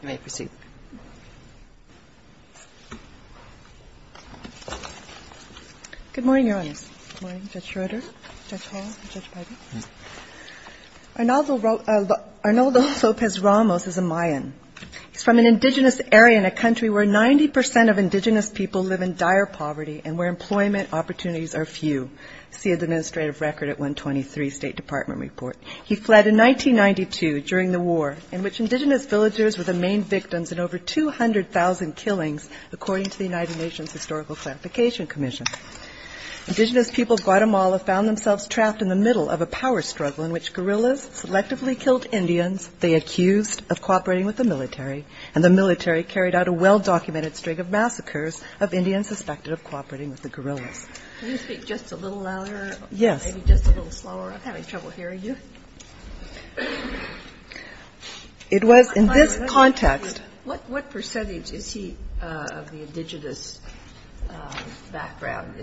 Arnoldo Lopez Ramos is a Mayan. He is from an indigenous area in a country where 90% of indigenous people live in dire poverty and where employment opportunities are few. See Administrative Record at 123 State Department Report. He fled in 1992 during the war in which indigenous villagers were the main victims in over 200,000 killings, according to the United Nations Historical Clarification Commission. Indigenous people of Guatemala found themselves trapped in the middle of a power struggle in which guerrillas selectively killed Indians they accused of cooperating with the military, and the military carried out a well-documented string of massacres of Indians suspected of cooperating with the guerrillas. Can you speak just a little louder? Yes. Maybe just a little slower. I'm having trouble hearing you. It was in this context. What percentage is he of the indigenous background?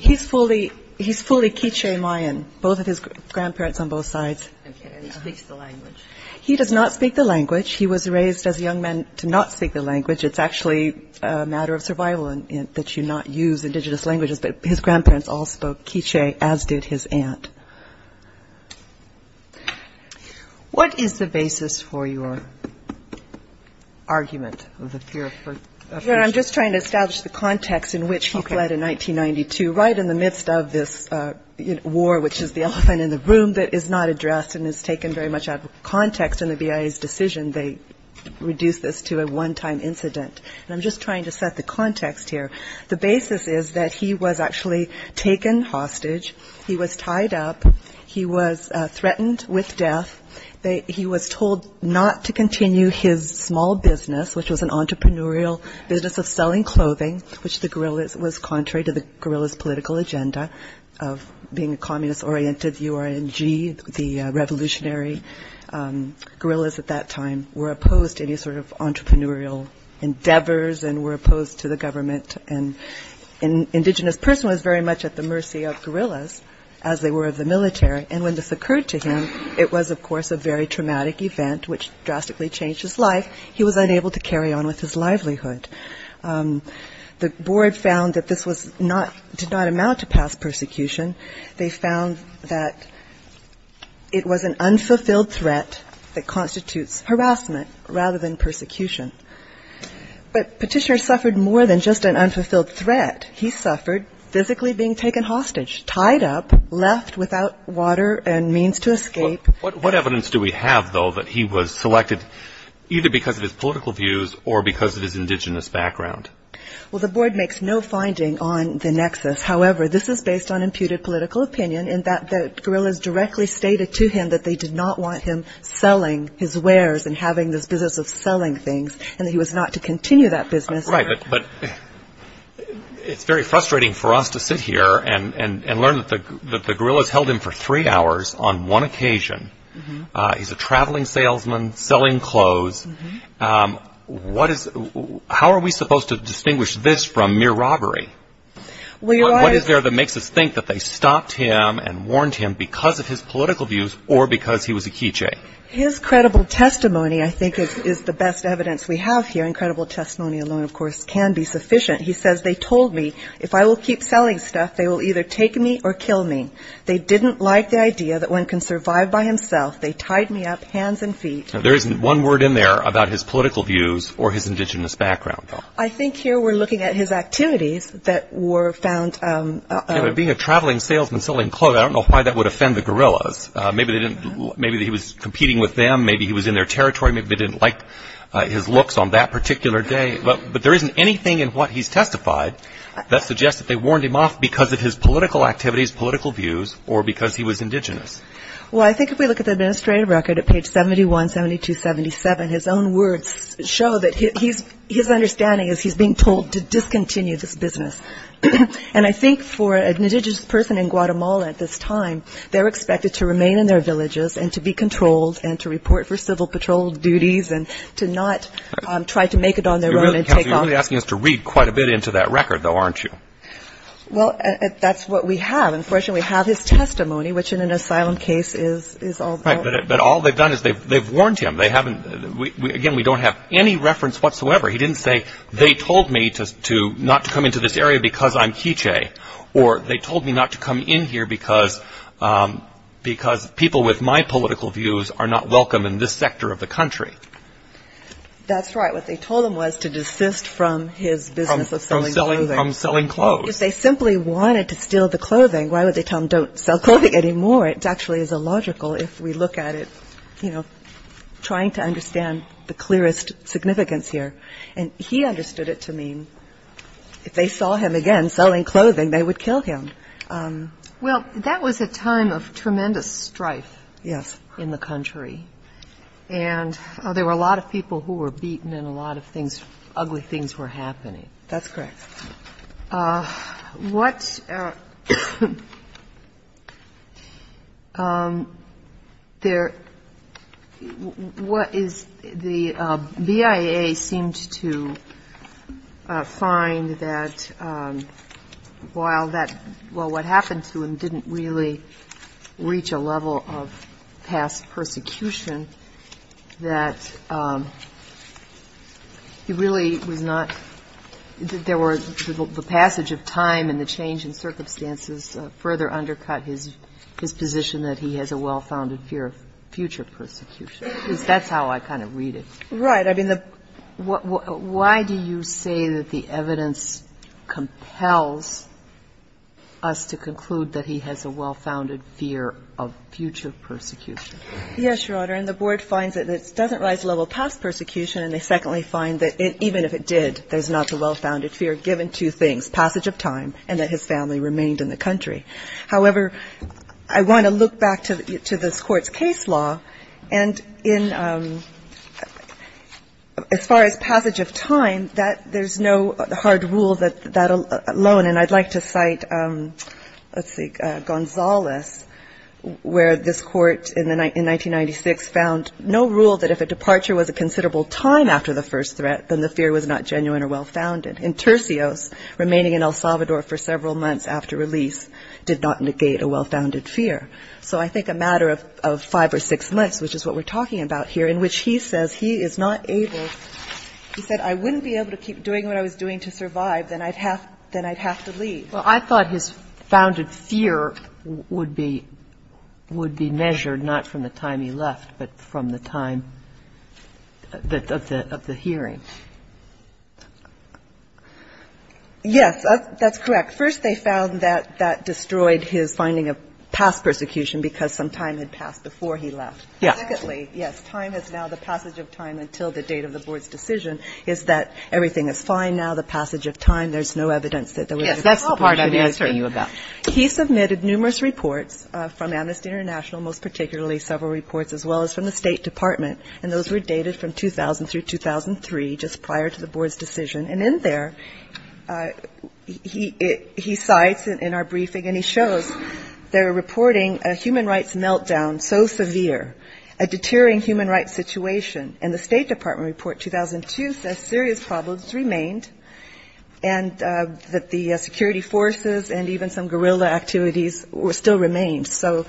He's fully K'iche' Mayan, both of his grandparents on both sides. Okay, and he speaks the language? He does not speak the language. He was raised as a young man to not speak the language. It's actually a matter of survival that you not use indigenous languages, but his grandparents all spoke K'iche' as did his aunt. What is the basis for your argument of the fear of persecution? I'm just trying to establish the context in which he fled in 1992, right in the midst of this war, which is the elephant in the room that is not addressed and is taken very much out of context in the BIA's decision. They reduced this to a one-time incident, and I'm just trying to set the context here. The basis is that he was actually taken hostage. He was tied up. He was threatened with death. He was told not to continue his small business, which was an entrepreneurial business of selling clothing, which the guerrillas was contrary to the guerrillas' political agenda of being a communist-oriented URNG, the revolutionary. Guerrillas at that time were opposed to any sort of entrepreneurial endeavors and were opposed to the government, and an indigenous person was very much at the mercy of guerrillas as they were of the military, and when this occurred to him, it was, of course, a very traumatic event, which drastically changed his life. He was unable to carry on with his life, did not amount to past persecution. They found that it was an unfulfilled threat that constitutes harassment rather than persecution. But Petitioner suffered more than just an unfulfilled threat. He suffered physically being taken hostage, tied up, left without water and means to escape. Well, what evidence do we have, though, that he was selected either because of his political views or because of his indigenous background? Well, the board makes no finding on the nexus. However, this is based on imputed political opinion in that the guerrillas directly stated to him that they did not want him selling his wares and having this business of selling things and that he was not to continue that business. Right, but it's very frustrating for us to sit here and learn that the guerrillas held him for three hours on one occasion. He's a traveling salesman selling clothes. How are we supposed to distinguish this from mere robbery? What is there that makes us think that they stopped him and warned him because of his political views or because he was a K'iche'? His credible testimony, I think, is the best evidence we have here. Incredible testimony alone, of course, can be sufficient. He says, they told me if I will keep selling stuff, they will either take me or kill me. They didn't like the idea that one can survive by himself. They tied me up, hands and feet. There isn't one word in there about his political views or his indigenous background, though. I think here we're looking at his activities that were found. Yeah, but being a traveling salesman selling clothes, I don't know why that would offend the guerrillas. Maybe he was competing with them. Maybe he was in their territory. Maybe they didn't like his looks on that particular day. But there isn't anything in what he's testified that suggests that they warned him off because of his political activities, political views, or because he was indigenous. Well, I think if we look at the administrative record at page 71, 72, 77, his own words show that his understanding is he's being told to discontinue this business. And I think for an indigenous person in Guatemala at this time, they're expected to remain in their villages and to be controlled and to report for civil patrol duties and to not try to make it on their own and take off. You're really asking us to read quite a bit into that record, though, aren't you? Well, that's what we have. Unfortunately, we have his testimony, which in an asylum case is... Right, but all they've done is they've warned him. They haven't... Again, we don't have any reference whatsoever. He didn't say, they told me not to come into this area because I'm K'iche' or they told me not to come in here because people with my political views are not welcome in this sector of the country. That's right. What they told him was to desist from his business of selling clothing. From selling clothes. Because they simply wanted to steal the clothing. Why would they tell him don't sell clothing anymore? It actually is illogical if we look at it, you know, trying to understand the clearest significance here. And he understood it to mean if they saw him again selling clothing, they would kill him. Well, that was a time of tremendous strife in the country. And there were a lot of people who were beaten and a lot of things, ugly things were happening. That's correct. What... What is... The BIA seemed to find that while that, well, what Right. I mean, why do you say that the evidence compels us to conclude that he has a well-founded fear of future persecution? Yes, Your Honor. And the board finds that it doesn't rise to the level of past persecution and they secondly find that even if it did, there's not the well-founded fear given to things, passage of time, and that his family remained in the country. However, I want to look back to this Court's case law and in, as far as passage of time, that there's no hard rule that alone, and I'd like to cite, let's see, Gonzales, where this Court in 1996 found no rule that if a departure was a considerable time after the first threat, then the fear was not genuine or well-founded. And Tercios, remaining in El Salvador for several months after release, did not negate a well-founded fear. So I think a matter of five or six months, which is what we're talking about here, in which he says he is not able, he said, I wouldn't be able to keep doing what I was doing to survive, then I'd have to leave. Well, I thought his founded fear would be measured not from the time he left, but from the time of the hearing. Yes, that's correct. First, they found that that destroyed his finding of past persecution because some time had passed before he left. Secondly, yes, time is now the passage of time until the date of the Board's decision is that everything is fine now, the passage of time, there's no evidence that there was a period of time before the Board's decision. And thirdly, he submitted numerous reports from Amnesty International, most particularly several reports, as well as from the State Department, and those were dated from 2000 through 2003, just prior to the Board's decision. And in there, he cites in our briefing, and he shows they're reporting a human rights meltdown so severe, a deterring human rights situation. And the State Department report 2002 says serious problems remained, and that the security forces and even some guerrilla activities still remained. So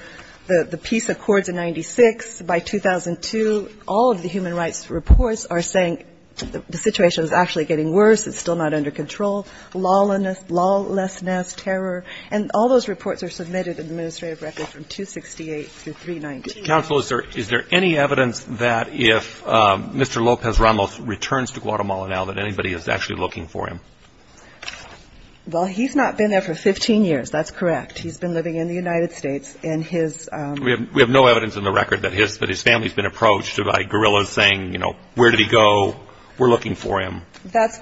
the peace accords in 96, by 2002, all of the human rights reports are saying the situation is actually getting worse, it's still not under control, lawlessness, terror, and all those reports are submitted in the administrative record from 268 through 319. Counsel, is there any evidence that if Mr. Lopez Ramos returns to Guatemala now, that anybody is actually looking for him? Well, he's not been there for 15 years, that's correct. He's been living in the United States. We have no evidence in the record that his family's been approached by guerrillas saying, you know, where did he go, we're looking for him. That's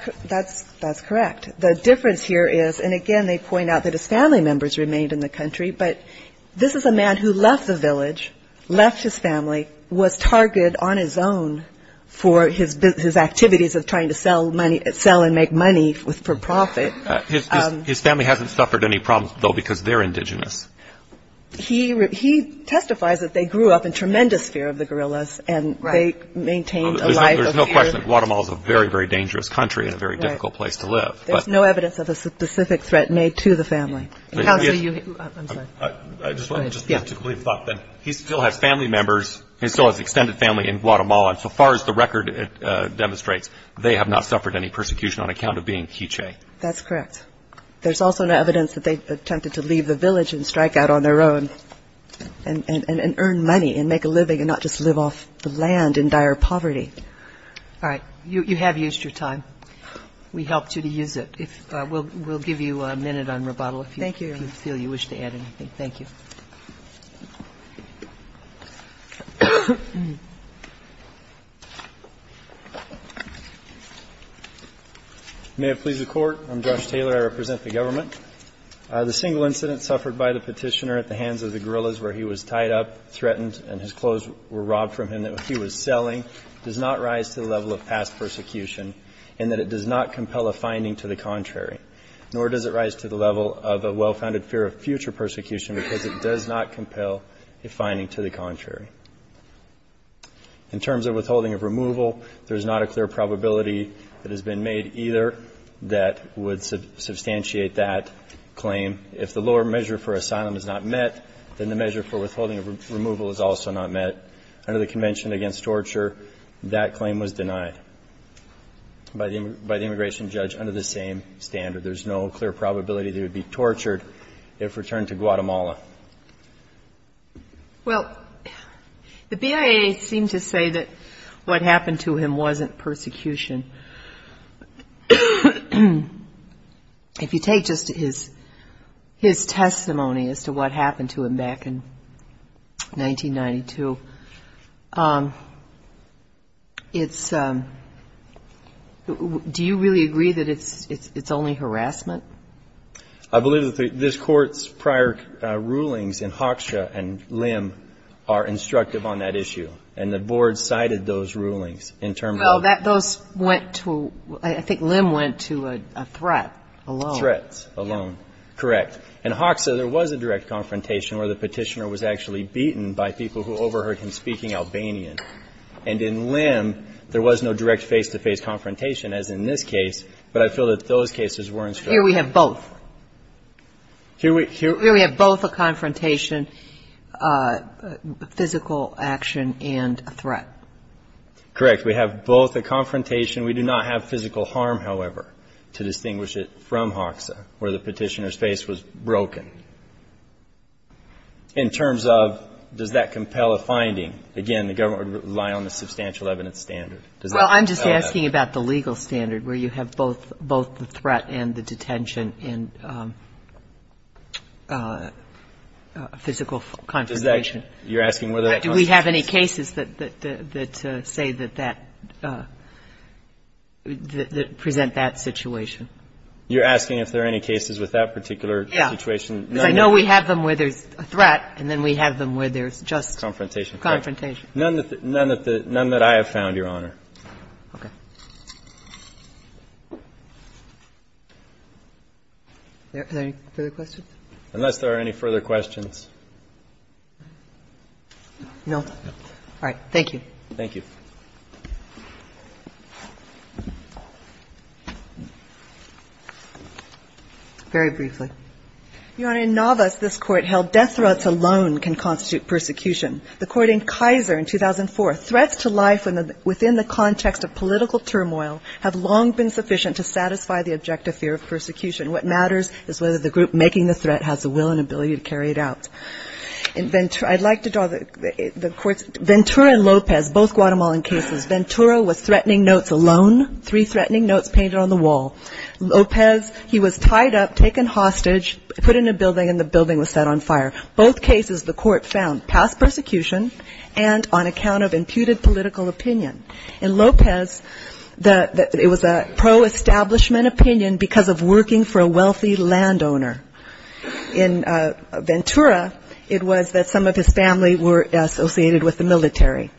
correct. The difference here is, and again, they point out that his family members remained in the country, but this is a man who left the village, left his family, was targeted on his own for his activities of trying to sell and make money for profit. His family hasn't suffered any problems, though, because they're indigenous. He testifies that they grew up in tremendous fear of the guerrillas and they maintained a life of fear. There's no question that Guatemala is a very, very dangerous country and a very difficult place to live. There's no evidence of a specific threat made to the family. I'm sorry. I just wanted to leave a thought then. He still has family members, he still has extended family in Guatemala, and so far as the record demonstrates, they have not suffered any persecution on account of being K'iche'. That's correct. There's also no evidence that they attempted to leave the village and strike out on their own and earn money and make a living and not just live off the land in dire poverty. Okay. All right. You have used your time. We helped you to use it. We'll give you a minute on rebuttal if you feel you wish to add anything. Thank you. May it please the Court. I'm Josh Taylor. I represent the government. The single incident suffered by the petitioner at the hands of the guerrillas where he was tied up, threatened, and his clothes were robbed from him that he was selling does not rise to the level of past persecution and that it does not compel a finding to the contrary, nor does it rise to the level of a well-founded fear of future persecution because it does not compel a finding to the contrary. In terms of withholding of removal, there's not a clear probability that has been made either that would substantiate that claim. If the lower measure for asylum is not met, then the measure for withholding of torture, that claim was denied by the immigration judge under the same standard. There's no clear probability they would be tortured if returned to Guatemala. Well, the BIA seemed to say that what happened to him wasn't persecution. If you take just his testimony as to what happened to him back in 1992, it's, do you really agree that it's only harassment? I believe that this court's prior rulings in Hoxha and Lim are instructive on that issue, and the board cited those rulings in terms of... Well, those went to, I think Lim went to a threat alone. Threats alone, correct. In Hoxha, there was a direct confrontation where the petitioner was actually And in Lim, there was no direct face-to-face confrontation as in this case, but I feel that those cases were instructive. Here we have both. Here we have both a confrontation, physical action, and a threat. Correct. We have both a confrontation. We do not have physical harm, however, to distinguish it from Hoxha where the petitioner's face was broken. In terms of does that compel a finding, again, the government would rely on the substantial evidence standard. Does that compel that? Well, I'm just asking about the legal standard where you have both the threat and the detention and physical confrontation. Does that, you're asking whether that... Do we have any cases that say that that, that present that situation? You're asking if there are any cases with that particular situation? Yeah. Because I know we have them where there's a threat and then we have them where there's just... Confrontation. ...confrontation. None that I have found, Your Honor. Okay. Are there any further questions? Unless there are any further questions. No. All right. Thank you. Thank you. Very briefly. Your Honor, in Navas, this Court held death threats alone can constitute persecution. The Court in Kaiser in 2004, threats to life within the context of political turmoil have long been sufficient to satisfy the objective fear of persecution. What matters is whether the group making the threat has the will and ability to carry it out. In Ventura, I'd like to draw the Court's... Ventura and Lopez, both Guatemalan cases. Ventura was threatening notes alone, three threatening notes painted on the wall. Lopez, he was tied up, taken hostage, put in a building, and the building was set on fire. Both cases, the Court found past persecution and on account of imputed political opinion. In Lopez, it was a pro-establishment opinion because of working for a wealthy landowner. In Ventura, it was that some of his family were associated with the military.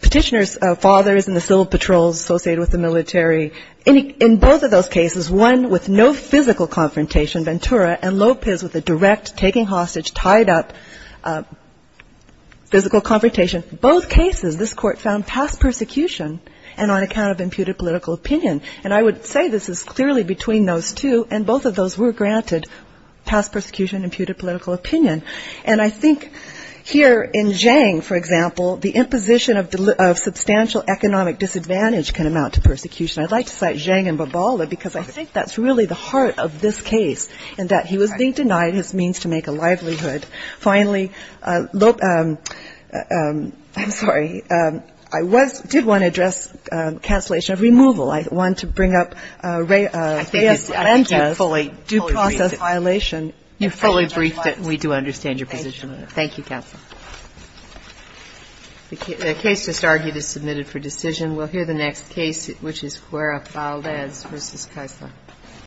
Petitioner's father is in the civil patrols associated with the military. In both of those cases, one with no physical confrontation, Ventura, and Lopez with a direct, taking hostage, tied up, physical confrontation. Both cases, this Court found past persecution and on account of imputed political opinion. And I would say this is clearly between those two, and both of those were granted past persecution, imputed political opinion. And I think here in Zhang, for example, the imposition of substantial economic disadvantage can amount to persecution. I'd like to cite Zhang and Bobala, because I think that's really the heart of this case, in that he was being denied his means to make a livelihood. Finally, I'm sorry. I did want to address cancellation of removal. I want to bring up Reyes-Ventas' due process violation. Kagan. You fully briefed it, and we do understand your position on it. Thank you, counsel. The case just argued is submitted for decision. We'll hear the next case, which is Cuera-Faldez v. Kaisler.